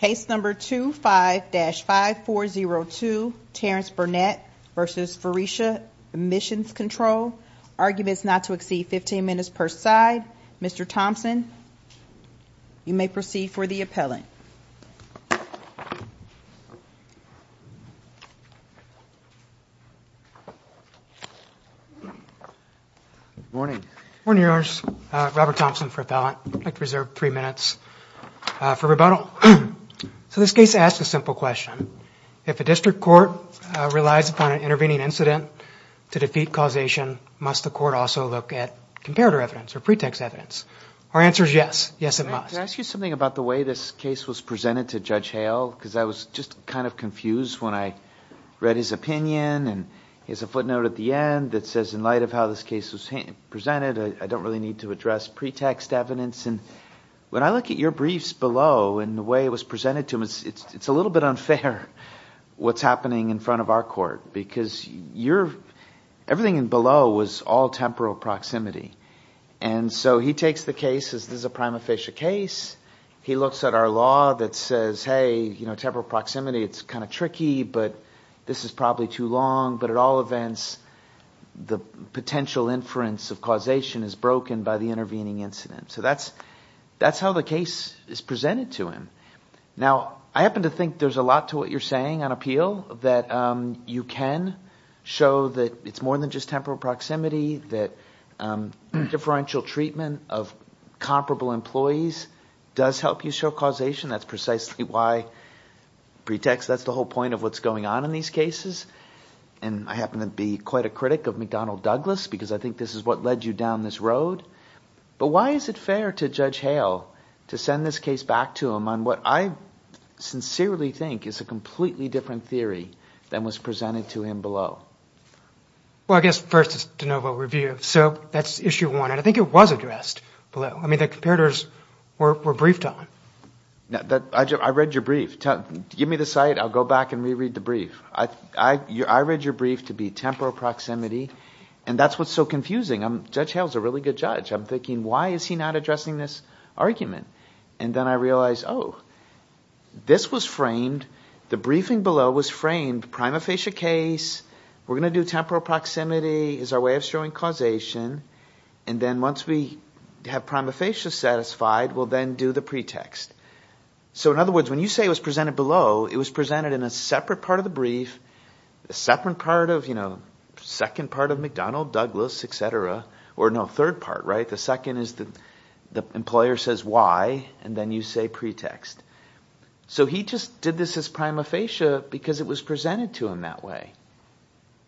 Case number 25-5402, Terrence Burnett v. Faurecia Emissions Control, arguments not to exceed 15 minutes per side. Mr. Thompson, you may proceed for the appellant. Morning. Morning, Your Honors. Robert Thompson for appellant. I'd like to reserve three minutes for rebuttal. So this case asks a simple question. If a district court relies upon an intervening incident to defeat causation, must the court also look at comparator evidence or pretext evidence? Our answer is yes. Yes, it must. Can I ask you something about the way this case was presented to Judge Hale? Because I was just kind of confused when I read his opinion, and he has a footnote at the end that says, in light of how this case was presented, I don't really need to address pretext evidence. And when I look at your briefs below and the way it was presented to him, it's a little bit unfair what's happening in front of our court, because everything below was all temporal proximity. And so he takes the case as this is a prima facie case. He looks at our law that says, hey, you know, temporal proximity, it's kind of tricky, but this is probably too long. But at all events, the potential inference of causation is broken by the intervening incident. So that's how the case is presented to him. Now, I happen to think there's a lot to what you're saying on appeal, that you can show that it's more than just temporal proximity, that differential treatment of comparable employees does help you show causation. That's precisely why pretext, that's the whole point of what's going on in these cases. And I happen to be quite a critic of McDonnell Douglas, because I think this is what led you down this road. But why is it fair to Judge Hale to send this case back to him on what I sincerely think is a completely different theory than was presented to him below? Well, I guess first it's de novo review. So that's issue one. And I think it was addressed below. I mean, the comparators were briefed on. I read your brief. Give me the cite, I'll go back and reread the brief. I read your brief to be sure it's temporal proximity. And that's what's so confusing. Judge Hale's a really good judge. I'm thinking, why is he not addressing this argument? And then I realized, oh, this was framed, the briefing below was framed, prima facie case, we're going to do temporal proximity as our way of showing causation. And then once we have prima facie satisfied, we'll then do the pretext. So in other words, when you say it was presented below, it was presented in a separate part of the brief, a separate part of, you know, second part of McDonald, Douglas, et cetera, or no, third part, right? The second is the employer says why, and then you say pretext. So he just did this as prima facie because it was presented to him that way.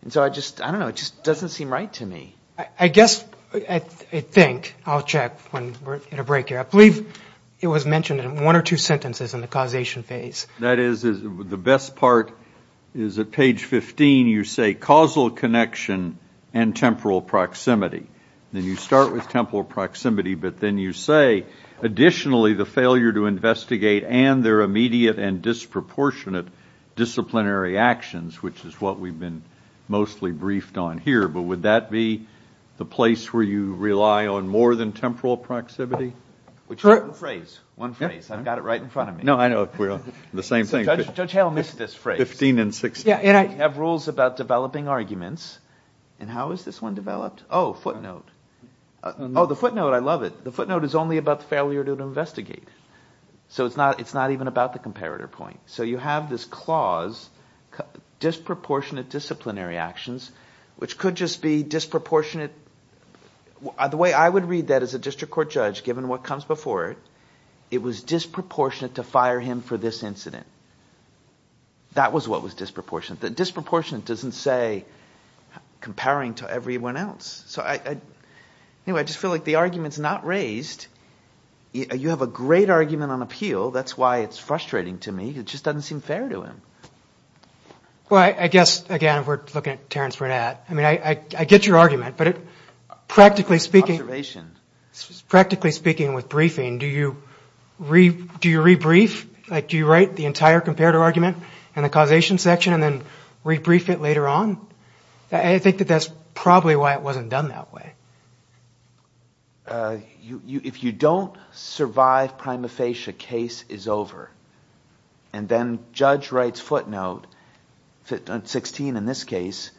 And so I just, I don't know, it just doesn't seem right to me. I guess, I think, I'll check when we're at a break here. I believe it was mentioned in one or two sentences in the causation phase. That is, the best part is at page 15, you say causal connection and temporal proximity. Then you start with temporal proximity, but then you say, additionally, the failure to investigate and their immediate and disproportionate disciplinary actions, which is what we've been mostly briefed on here. But would that be the place where you rely on more than temporal proximity? One phrase, I've got it right in front of me. No, I know, the same thing. Judge Hale missed this phrase. 15 and 16. Yeah, and I have rules about developing arguments. And how is this one developed? Oh, footnote. Oh, the footnote, I love it. The footnote is only about the failure to investigate. So it's not, it's not even about the comparator point. So you have this clause, disproportionate disciplinary actions, which could just be disproportionate. The way I would read that as a district court judge, given what comes before it, it was disproportionate to fire him for this incident. That was what was disproportionate. Disproportionate doesn't say comparing to everyone else. So anyway, I just feel like the argument's not raised. You have a great argument on appeal. That's why it's frustrating to me. It just doesn't seem fair to him. Well, I guess, again, if we're looking at Terrence Burnett, I mean, I get your argument, but practically speaking, practically speaking with briefing, do you re-brief? Like, do you write the entire comparator argument in the causation section and then re-brief it later on? I think that that's probably why it wasn't done that way. If you don't survive prima facie, case is over. And then judge writes footnote, 16 in this case,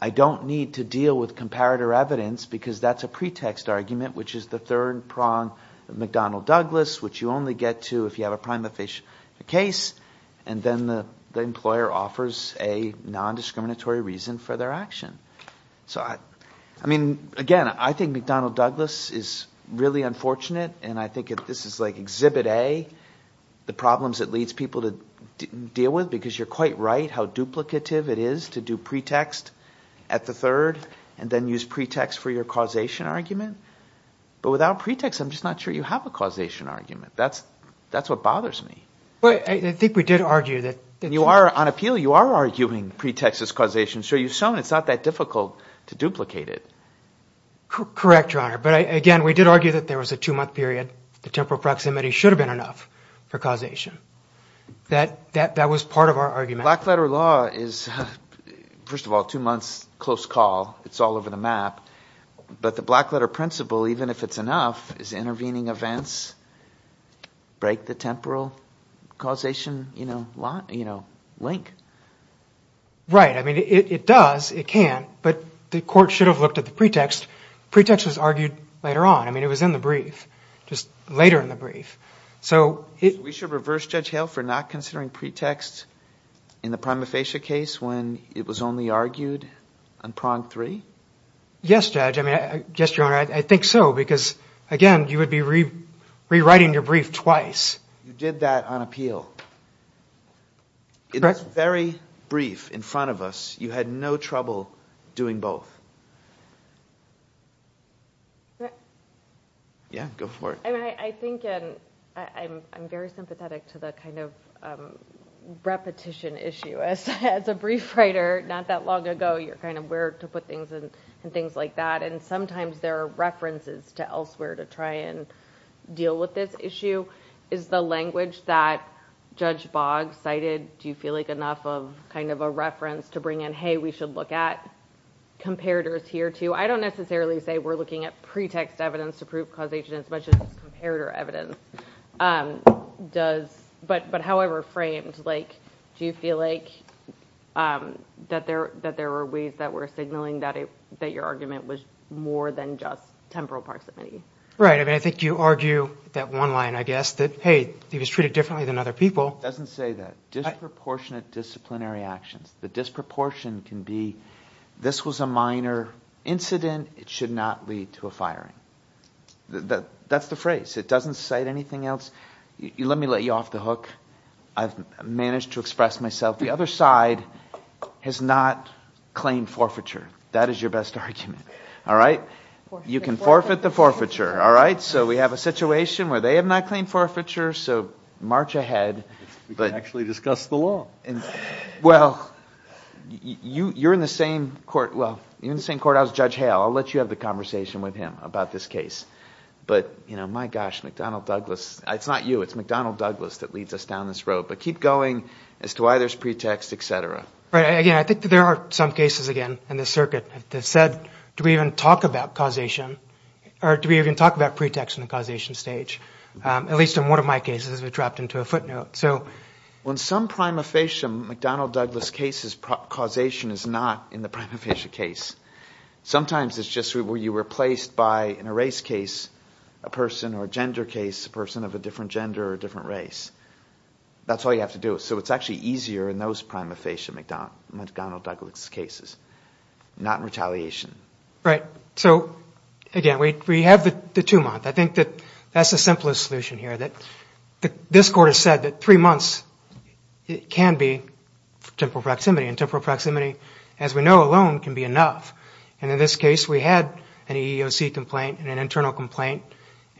I don't need to deal with comparator evidence because that's a pretext argument, which is the third prong of McDonnell-Douglas, which you only get to if you have a prima facie case, and then the employer offers a non-discriminatory reason for their action. So, I mean, again, I think McDonnell-Douglas is really unfortunate, and I think this is like exhibit A, the problems it leads people to deal with, because you're quite right how duplicative it is to do pretext at the third and then use pretext for your causation argument. But without pretext, I'm just not sure you have a causation argument. That's what bothers me. But I think we did argue that... You are, on appeal, you are arguing pretext as causation. So you've shown it's not that difficult to duplicate it. Correct, Your Honor. But again, we did argue that there was a two-month period. The temporal proximity should have been enough for causation. That was part of our argument. Black-letter law is, first of all, two months, close call. It's all over the map. But the black-letter principle, even if it's enough, is intervening events break the temporal causation, you know, link. Right. I mean, it does. It can. But the court should have looked at the pretext. Pretext was argued later on. I mean, it was in the brief, just later in the brief. So... We should reverse Judge Hale for not considering pretext in the prima facie case when it was only argued on prong three? Yes, Judge. I mean, I guess, Your Honor, I think so. Because, again, you would be rewriting your brief twice. You did that on appeal. Correct. It was very brief in front of us. You had no trouble doing both. Yeah, go for it. I mean, I think, and I'm very sympathetic to the kind of repetition issue. As a brief writer, not that long ago, you're kind of where to put things and things like that. And sometimes there are references to elsewhere to try and deal with this issue. Is the language that Judge Boggs cited, do you feel like enough of kind of a reference to bring in, hey, we should look at comparators here, too? I don't necessarily say we're looking at pretext evidence to prove causation as much as comparator evidence. But however framed, do you feel like that there were ways that were signaling that your argument was more than just temporal proximity? Right. I mean, I think you argue that one line, I guess, that, hey, he was treated differently than other people. It doesn't say that. Disproportionate disciplinary actions. The disproportion can be, this was a minor incident. It should not lead to a firing. That's the phrase. It doesn't cite anything else. Let me let you off the hook. I've managed to express myself. The other side has not claimed forfeiture. That is your best argument. All right? You can forfeit the forfeiture. All right? So we have a situation where they have not claimed forfeiture, so march ahead. We can actually discuss the law. Well, you're in the same court. Well, you're in the same court. I was Judge Hale. I'll let you have the conversation with him about this case. But, you know, my gosh, McDonnell Douglas. It's not you. It's McDonnell Douglas that leads us down this road. But keep going as to why there's pretext, etc. Right. Again, I think that there are some cases, again, in this circuit that said, do we even talk about causation? Or do we even talk about pretext in the causation stage? At least in one of my cases, we dropped into a footnote. So when some prima faciem McDonnell Douglas case's causation is not in the prima facie case. Sometimes it's just where you were replaced by, in a race case, a person or a gender case, a person of a different gender or a different race. That's all you have to do. So it's actually easier in those prima facie McDonnell Douglas cases, not in retaliation. Right. So again, we have the two-month. I think that that's the simplest solution here, that this court has said that three months, it can be temporal proximity and temporal proximity, as we know alone, can be enough. And in this case, we had an EEOC complaint and an internal complaint.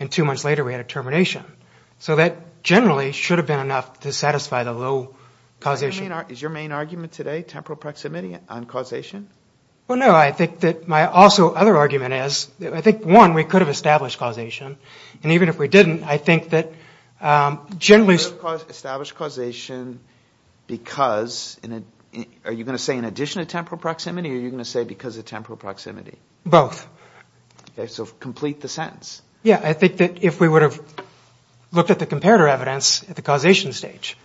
And two months later, we had a termination. So that generally should have been enough to satisfy the low causation. Is your main argument today temporal proximity on causation? Well, no. I think that my also other argument is, I think one, we could have established causation. And even if we didn't, I think that generally... Establish causation because... Are you going to say in addition to temporal proximity, or are you going to say because of temporal proximity? Both. Okay, so complete the sentence. Yeah, I think that if we would have looked at the comparator evidence at the causation stage,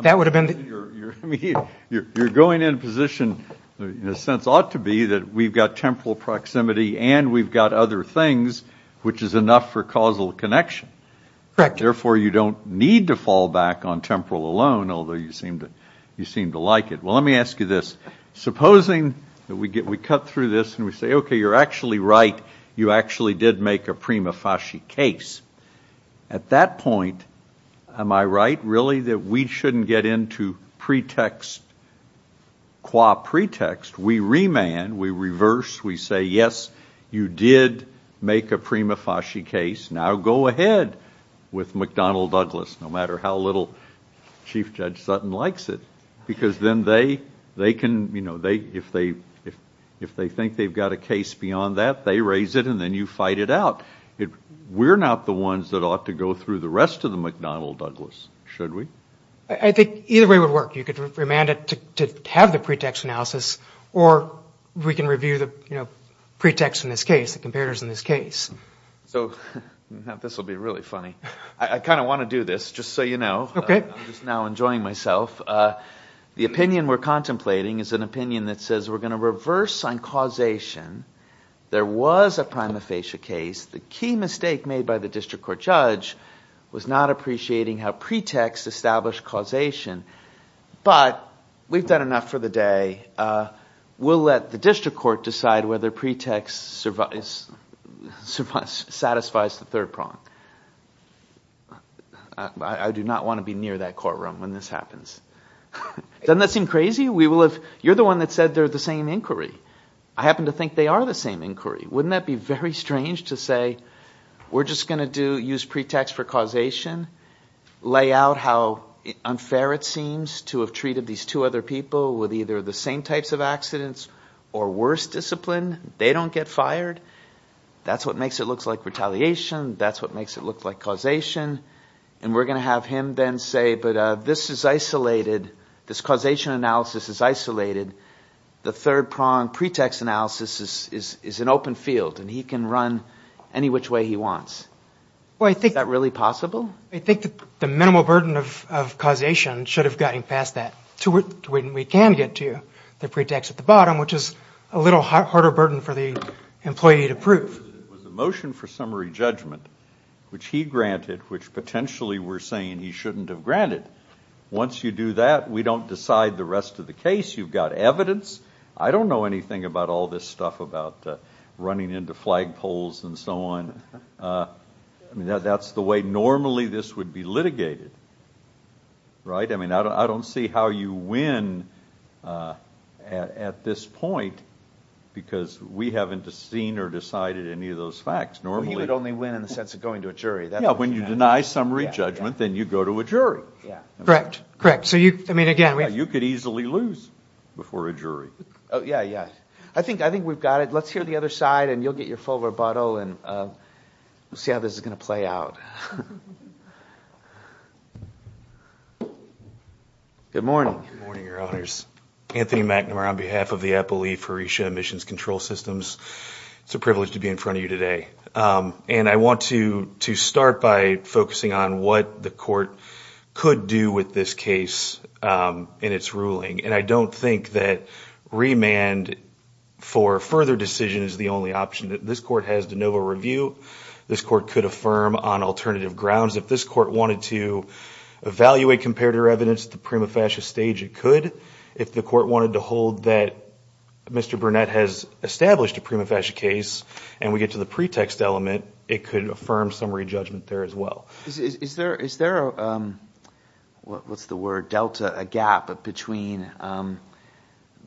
that would have been... You're going in position, in a sense, ought to be that we've got temporal proximity and we've got other things, which is enough for causal connection. Correct. Therefore, you don't need to fall back on temporal alone, although you seem to like it. Well, let me ask you this. Supposing that we cut through this and we say, okay, you're actually right. You actually did make a prima facie case. At that point, am I right, really, that we shouldn't get into pretext qua pretext? We remand, we reverse, we say, yes, you did make a prima facie case. Now go ahead with McDonnell-Douglas, no matter how little Chief Judge Sutton likes it, because then they can, you know, if they think they've got a case beyond that, they raise it and then you fight it out. We're not the ones that ought to go through the rest of the McDonnell-Douglas, should we? I think either way would work. You could remand it to have the pretext analysis or we can review the, you know, pretext in this case, the comparators in this case. So this will be really funny. I kind of want to do this, just so you know. Okay. I'm just now enjoying myself. The opinion we're contemplating is an opinion that says we're going to reverse on causation. There was a prima facie case. The key mistake made by the district court judge was not appreciating how pretext established causation. But we've done enough for the day. We'll let the district court decide whether pretext satisfies the third prong. I do not want to be near that courtroom when this happens. Doesn't that seem crazy? We will have, you're the one that said they're the same inquiry. I happen to think they are the same inquiry. Wouldn't that be very strange to say we're just going to do, use pretext for causation, lay out how unfair it seems to have treated these two other people with either the same types of accidents or worse discipline. They don't get fired. That's what makes it look like retaliation. That's what makes it look like causation. And we're going to have him then say, but this is isolated. This causation analysis is isolated. The third prong pretext analysis is an open field, and he can run any which way he wants. Is that really possible? I think that the minimal burden of causation should have gotten past that to where we can get to the pretext at the bottom, which is a little harder burden for the employee to prove. The motion for summary judgment, which he granted, which potentially we're saying he shouldn't have granted. Once you do that, we don't decide the rest of the case. You've got evidence. I don't know anything about all this stuff about running into flagpoles and so on. I mean normally this would be litigated, right? I mean I don't see how you win at this point, because we haven't seen or decided any of those facts. Normally. He would only win in the sense of going to a jury. Yeah, when you deny summary judgment, then you go to a jury. Yeah, correct, correct. So you, I mean again, you could easily lose before a jury. Oh yeah, yeah. I think we've got it. Let's hear the other side and you'll get your full rebuttal and see how this is gonna play out. Good morning. Good morning, your honors. Anthony McNamara on behalf of the Appalachian Emissions Control Systems. It's a privilege to be in front of you today, and I want to to start by focusing on what the court could do with this case in its ruling, and I don't think that remand for further decision is the only option. This court has de novo review. This court could affirm on alternative grounds. If this court wanted to evaluate comparator evidence at the prima facie stage, it could. If the court wanted to hold that Mr. Burnett has established a prima facie case and we get to the pretext element, it could affirm summary judgment there as well. Is there, is there, what's the word, delta, a gap between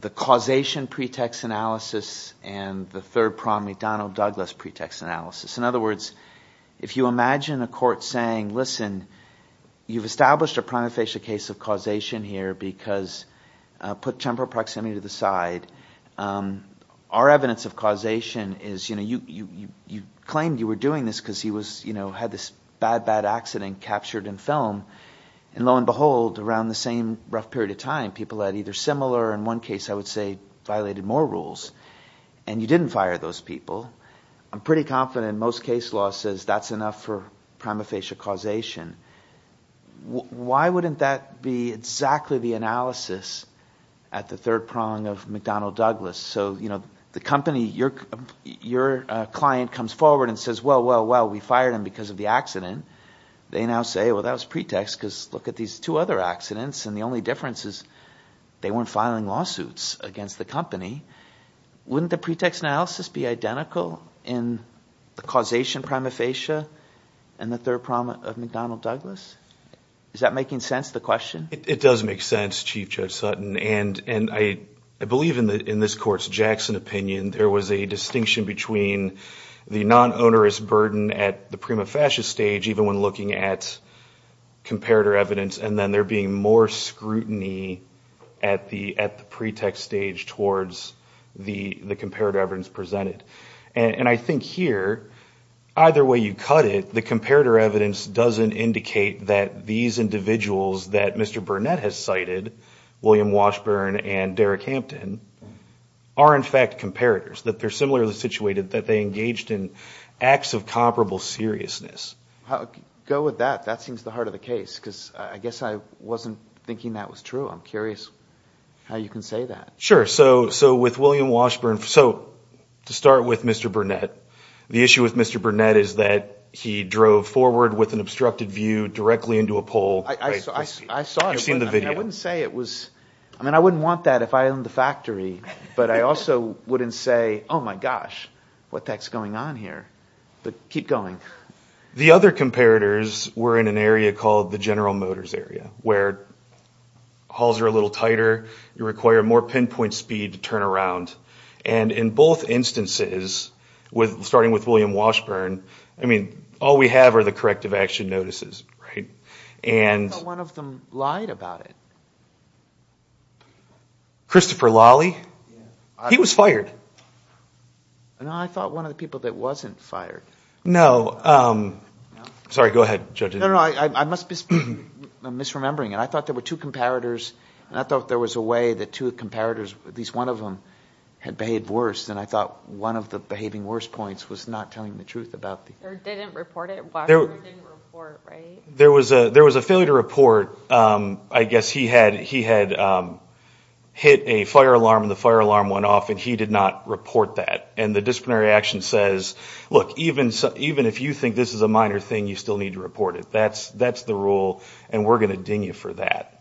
the causation pretext analysis and the third primary Donald Douglas pretext analysis? In other words, if you imagine a court saying, listen, you've established a prima facie case of causation here because, put temporal proximity to the side, our evidence of causation is, you know, you claimed you were doing this because he was, you know, had this bad, bad accident captured in film, and lo and behold, around the same rough period of time, people had either similar or in one case, I would say, violated more rules, and you didn't fire those people. I'm pretty confident most case law says that's enough for prima facie causation. Why wouldn't that be exactly the analysis at the third prong of McDonnell Douglas? So, you know, the company, your client comes forward and says, well, well, well, we fired him because of the accident. They now say, well, that was pretext, because look at these two other accidents, and the only difference is they weren't filing lawsuits against the company. Wouldn't the pretext analysis be identical in the causation prima facie and the third prong of McDonnell Douglas? Is that making sense, the question? It does make sense, Chief Judge Sutton, and, and I, I believe in the, in this court's Jackson opinion, there was a distinction between the non-onerous burden at the prima facie stage, even when looking at comparator evidence, and then there being more scrutiny at the, at the pretext stage towards the, the comparator evidence presented. And, and I think here, either way you cut it, the comparator evidence doesn't indicate that these individuals that Mr. Burnett has cited, William Washburn and Derek Hampton, are in fact comparators, that they're similarly situated, that they engaged in acts of comparable seriousness. Go with that, that seems the heart of the case, because I guess I wasn't thinking that was true. I'm curious how you can say that. Sure, so, so with William Washburn, so to start with Mr. Burnett, the issue with Mr. Burnett is that he drove forward with an obstructed view directly into a pole. I saw it. You've seen the video. I wouldn't say it was, I wouldn't want that if I owned the factory, but I also wouldn't say, oh my gosh, what the heck's going on here, but keep going. The other comparators were in an area called the General Motors area, where halls are a little tighter, you require more pinpoint speed to turn around, and in both instances, with starting with William Washburn, I mean, all we have are the corrective action notices, right, and... I thought one of them lied about it. Christopher Lawley? He was fired. No, I thought one of the people that wasn't fired. No, sorry, go ahead, judge. No, no, I must be misremembering, and I thought there were two comparators, and I thought there was a way that two comparators, at least one of them, had behaved worse, and I thought one of the behaving worse points was not telling the truth about the... Or didn't report it. There was a failure to report. I guess he had hit a fire alarm, and the fire alarm went off, and he did not report that, and the disciplinary action says, look, even if you think this is a minor thing, you still need to report it. That's the rule, and we're going to ding you for that.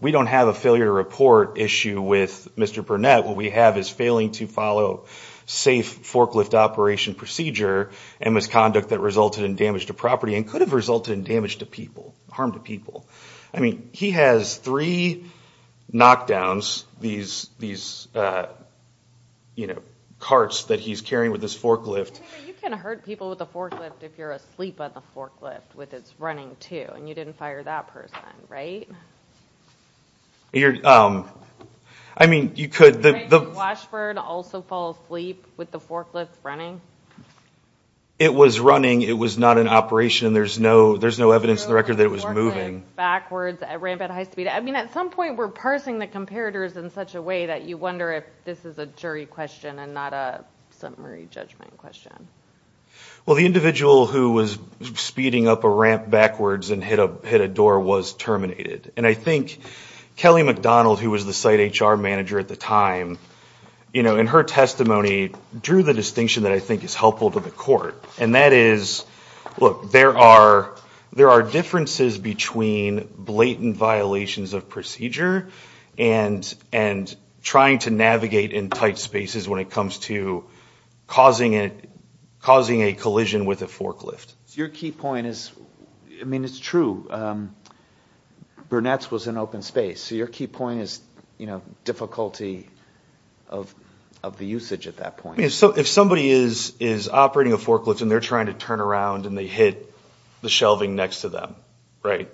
We don't have a failure to report issue with Mr. Burnett. What we have is failing to follow safe forklift operation procedure and misconduct that resulted in damage to property and could have resulted in damage to people, harm to people. I mean, he has three knockdowns, these, you know, carts that he's carrying with his forklift. You can hurt people with a forklift if you're asleep on the forklift with it's running too, and you didn't fire that person, right? I mean, you could... Did Washburn also fall asleep with the forklift running? It was running. It was not an operation. There's no evidence in the record that it was moving. Backwards, ramp at high speed. I mean, at some point we're parsing the comparators in such a way that you wonder if this is a jury question and not a summary judgment question. Well, the individual who was speeding up a ramp backwards and hit a door was terminated, and I think Kelly McDonald, who was the site HR manager at the time, you know, in her testimony drew the distinction that I think is helpful to the court, and that is, look, there are differences between blatant violations of procedure and trying to navigate in tight spaces when it comes to causing a collision with a forklift. Your key point is... I mean, it's true. Burnett's was an open space, so your key point is, you know, difficulty of the usage at that point. If somebody is operating a forklift and they're trying to turn around and they hit the shelving next to them, right?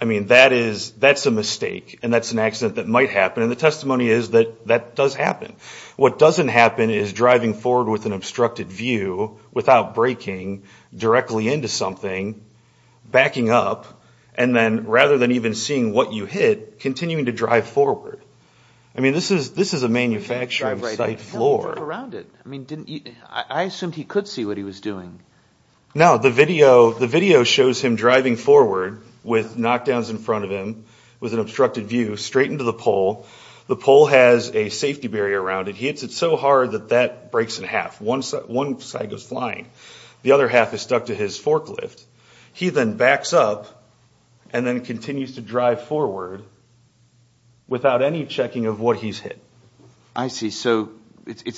I mean, that's a mistake, and that's an accident that might happen, and the testimony is that that does happen. What doesn't happen is driving forward with an obstructed view without braking directly into something, backing up, and then rather than even seeing what you hit, continuing to drive forward. I mean, this is a manufactured site floor. I mean, I assumed he could see what he was doing. No, the video shows him driving forward with knockdowns in the pole. The pole has a safety barrier around it. He hits it so hard that that breaks in half. One side goes flying. The other half is stuck to his forklift. He then backs up and then continues to drive forward without any checking of what he's hit. I see. So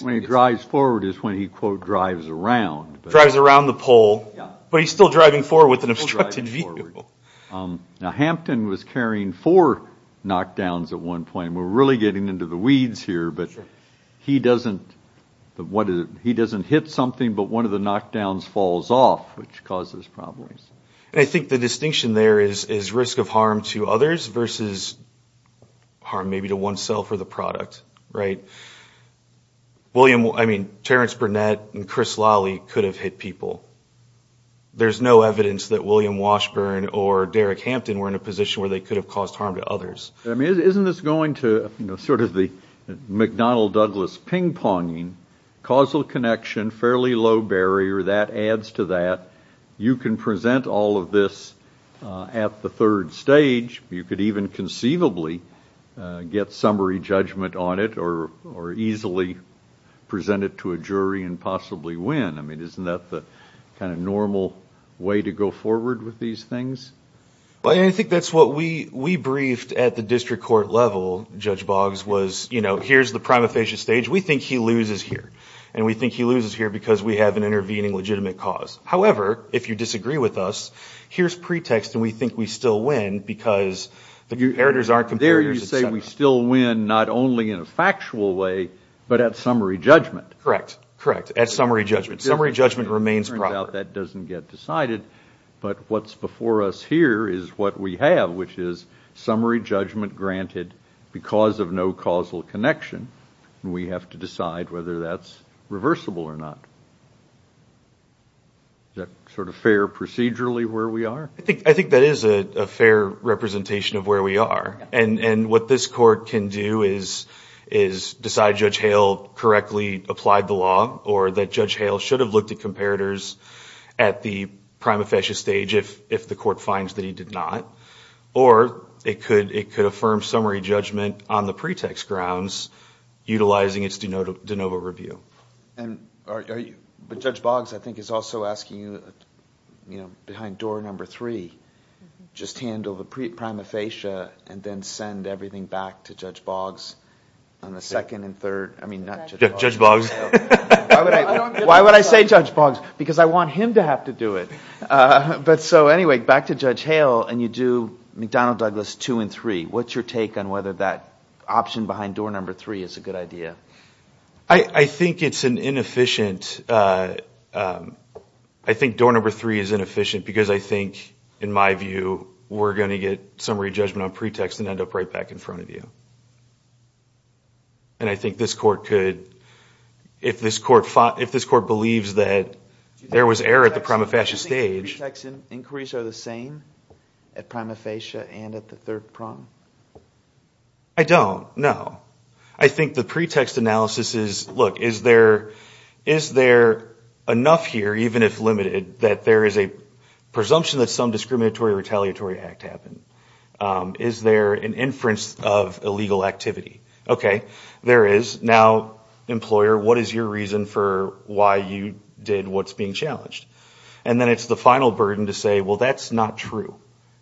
when he drives forward is when he, quote, drives around. Drives around the pole, but he's still driving forward with an obstruction at one point. We're really getting into the weeds here, but he doesn't hit something, but one of the knockdowns falls off, which causes problems. I think the distinction there is risk of harm to others versus harm maybe to oneself or the product, right? William, I mean, Terrence Burnett and Chris Lawley could have hit people. There's no evidence that William Washburn or Derek Hampton were in a position where they could have caused harm to others. I mean, isn't this going to, you know, sort of the McDonnell-Douglas ping-ponging, causal connection, fairly low barrier, that adds to that. You can present all of this at the third stage. You could even conceivably get summary judgment on it or easily present it to a jury and possibly win. I mean, isn't that the kind of normal way to go forward with these things? I think that's what we, we briefed at the district court level, Judge Boggs, was, you know, here's the prima facie stage. We think he loses here, and we think he loses here because we have an intervening legitimate cause. However, if you disagree with us, here's pretext and we think we still win because the comparators aren't comparators. There you say we still win not only in a factual way, but at summary judgment. Correct, correct, at summary judgment. Summary judgment remains proper. Turns out that doesn't get decided, but what's before us here is what we have, which is summary judgment granted because of no causal connection. We have to decide whether that's reversible or not. Is that sort of fair procedurally where we are? I think, I think that is a fair representation of where we are, and, and what this court can do is, is decide Judge Hale correctly applied the law or that Judge Hale should have looked at comparators at the prima facie stage if the court finds that he did not, or it could, it could affirm summary judgment on the pretext grounds utilizing its de novo review. And are you, but Judge Boggs I think is also asking you, you know, behind door number three, just handle the prima facie and then send everything back to Judge Boggs on the second and third. I mean, Judge Boggs. Why would I, why would I say Judge Boggs? Because I want him to have to do it. But so anyway, back to Judge Hale and you do McDonnell Douglas two and three. What's your take on whether that option behind door number three is a good idea? I think it's an inefficient, I think door number three is inefficient because I think, in my view, we're going to get summary judgment on pretext and end up right back in front of you. And I think this court could, if this court fought, if this court believes that there was error at the prima facie stage. Do you think pretext inquiries are the same at prima facie and at the third prong? I don't, no. I think the pretext analysis is, look, is there, is there enough here, even if limited, that there is a presumption that some discriminatory retaliatory act happened? Is there an inference of illegal activity? Okay, there is. Now, employer, what is your reason for why you did what's being challenged? And then it's the final burden to say, well, that's not true.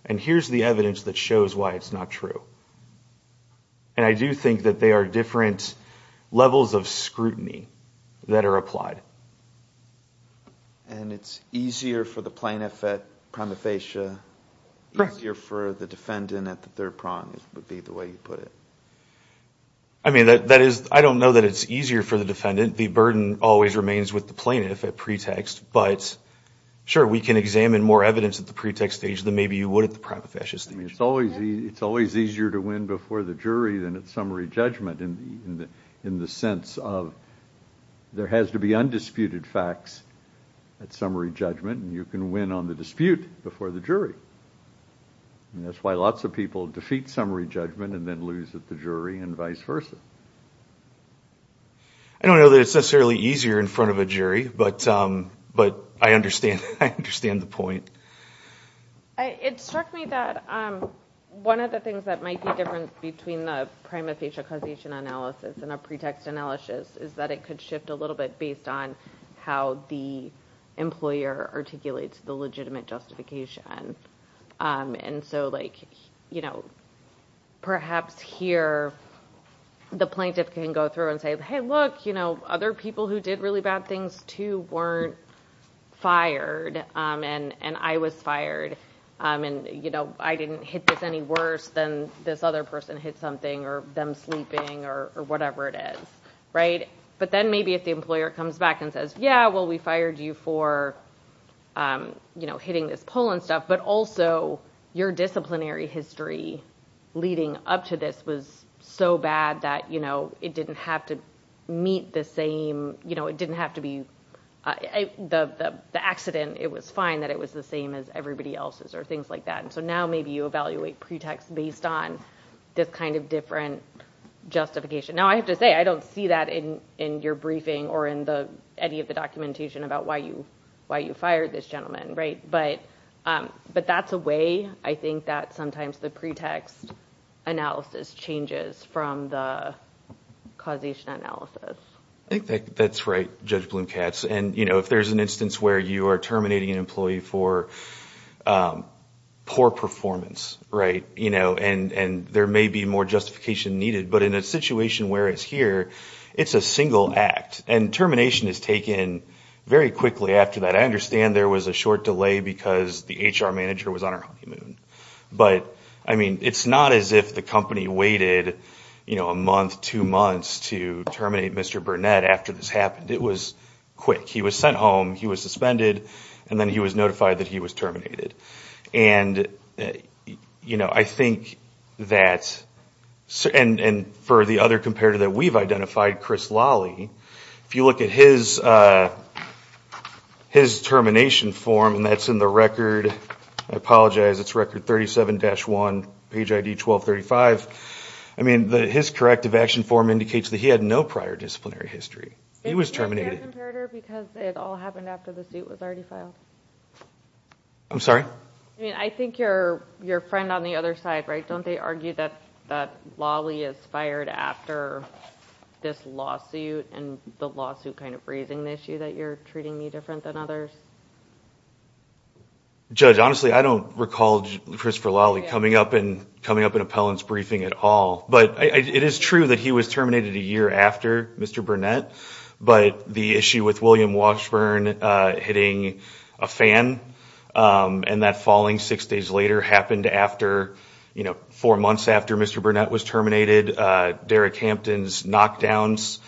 And here's the evidence that shows why it's not true. And I do think that they are different levels of scrutiny that are applied. And it's easier for the plaintiff at prima facie, easier for the defendant at the third prong, would be the way you put it. I mean, that is, I don't know that it's easier for the defendant. The burden always remains with the plaintiff at pretext. But sure, we can examine more evidence at the pretext stage than maybe you would at the prima facie stage. I mean, it's always, it's always easier to win before the jury than at summary judgment in the, in the sense of there has to be undisputed facts at summary judgment, and you can win on the dispute before the jury. And that's why lots of people defeat summary judgment and then lose at the jury and vice versa. I don't know that it's necessarily easier in front of a jury, but, but I understand, I understand the point. It struck me that one of the things that might be different between the prima facie causation analysis and a pretext analysis is that it could shift a little bit based on how the employer articulates the legitimate justification. And so like, you know, perhaps here the plaintiff can go through and say, hey, look, you know, other people who did really bad things too weren't fired. And, and I was fired. And, you know, I didn't hit this any worse than this other person hit something or them sleeping or whatever it is, right? But then maybe if the employer comes back and says, yeah, well, we fired you for, you know, hitting this pole and stuff, but also your disciplinary history leading up to this was so bad that, you know, it didn't have to meet the same, you know, it didn't have to be the accident. It was fine that it was the same as everybody else's or things like that. And so now maybe you evaluate pretext based on this kind of different justification. Now I have to say, I don't see that in, in your briefing or in the, any of the documentation about why you, why you fired this gentleman, right? But, but that's a way I think that sometimes the pretext analysis changes from the causation analysis. I think that's right, Judge Bloom-Katz. And, you know, if there's an instance where you are terminating an employee for poor performance, right, you know, and, and there may be more justification needed, but in a situation where it's here, it's a single act. And termination is taken very quickly after that. I understand there was a short delay because the HR manager was on her honeymoon. But, I mean, it's not as if the company waited, you know, a month, two months to terminate Mr. Burnett after this happened. It was quick. He was sent home, he was suspended, and then he was notified that he was terminated. And, you know, I think that, and, and for the other comparator that we've identified, Chris Lawley, if you look at his, his termination form, and that's in the record, I apologize, it's record 37-1, page ID 1235. I mean, his corrective action form indicates that he had no prior disciplinary history. He was terminated. I'm sorry? I mean, I think your, your friend on the other side, right, don't they argue that, that Lawley is fired after this lawsuit, and the lawsuit kind of raising the issue that you're treating me different than others? Judge, honestly, I don't recall Christopher Lawley coming up in, coming up in appellant's briefing at all. But it is true that he was terminated a year after Mr. Burnett, but the issue with William Washburn hitting a fan, and that falling six days later happened after, you know, four months after Mr. Burnett was terminated. Derek Hampton's knockdowns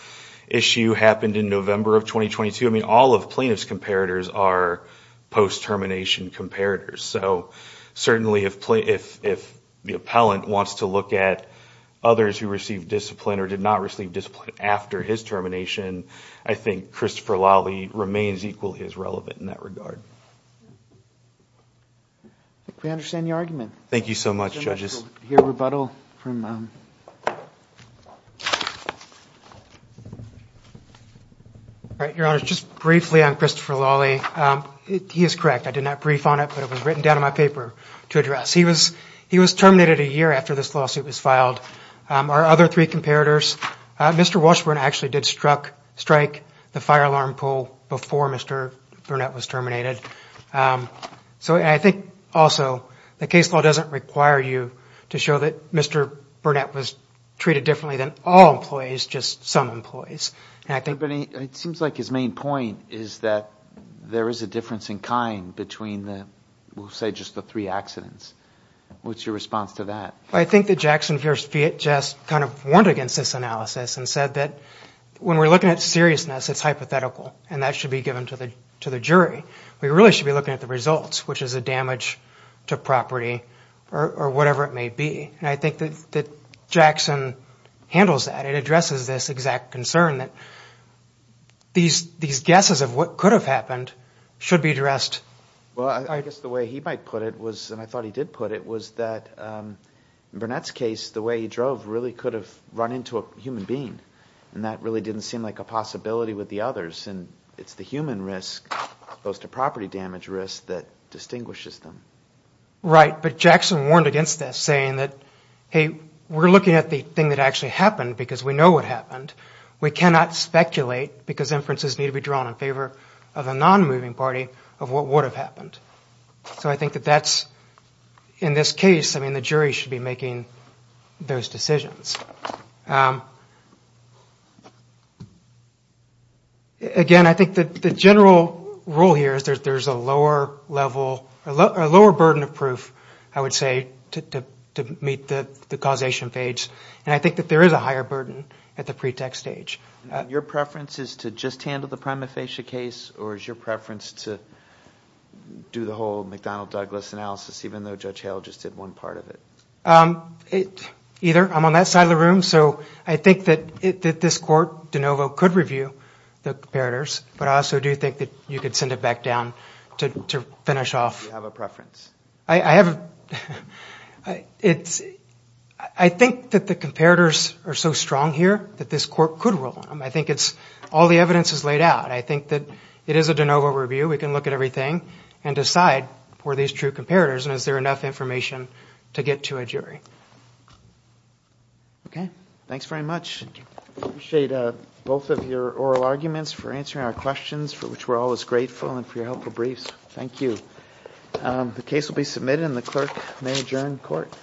issue happened in November of 2022. I mean, all of plaintiff's comparators are post-termination comparators. So certainly, if, if, if the appellant wants to look at others who received discipline or did not receive discipline after his termination, I think Christopher Lawley remains equally as relevant in that regard. We understand your argument. Thank you so much, judges. We'll hear rebuttal from, um. Your Honor, just briefly on Christopher Lawley. He is correct. I did not brief on it, but it was written down in my paper to address. He was, he was terminated a year after this lawsuit was filed. Our other three comparators, Mr. Washburn actually did struck, strike the fire alarm pull before Mr. Burnett was terminated. So I think, also, the case law doesn't require you to show that Mr. Burnett was treated differently than all employees, just some employees. And I think. It seems like his main point is that there is a difference in kind between the, we'll say, just the three accidents. What's your response to that? I think that Jackson just kind of warned against this analysis and said that when we're looking at seriousness, it's hypothetical and that should be given to the, to the jury. We really should be looking at the results, which is a damage to property or whatever it may be. And I think that Jackson handles that. It addresses this exact concern that these, these guesses of what could have happened should be addressed. Well, I guess the way he might put it was, and I thought he did put it, was that Burnett's case, the way he drove really could have run into a human being and that really didn't seem like a possibility with the others. And it's the human risk as opposed to property damage risk that distinguishes them. Right, but Jackson warned against this, saying that hey, we're looking at the thing that actually happened because we know what happened. We cannot speculate because inferences need to be drawn in favor of a non-moving party of what would have happened. So I think that that's, in this case, I mean the jury should be making those decisions. Again, I think that the general rule here is that there's a lower level, a lower burden of proof, I would say, to meet the causation phase. And I think that there is a higher burden at the pretext stage. Your preference is to just handle the Amalfitia case or is your preference to do the whole McDonnell-Douglas analysis even though Judge Hale just did one part of it? Either. I'm on that side of the room. So I think that this court, DeNovo, could review the comparators but I also do think that you could send it back down to finish off. You have a preference. I have, it's, I think that the comparators are so strong here that this court could rule on them. I think it's, all the evidence is laid out. I think that it is a DeNovo review. We can look at everything and decide for these true comparators and is there enough information to get to a jury. Okay, thanks very much. Appreciate both of your oral arguments for answering our questions for which we're always grateful and for your helpful briefs. Thank you. The case will be submitted and the clerk may adjourn court.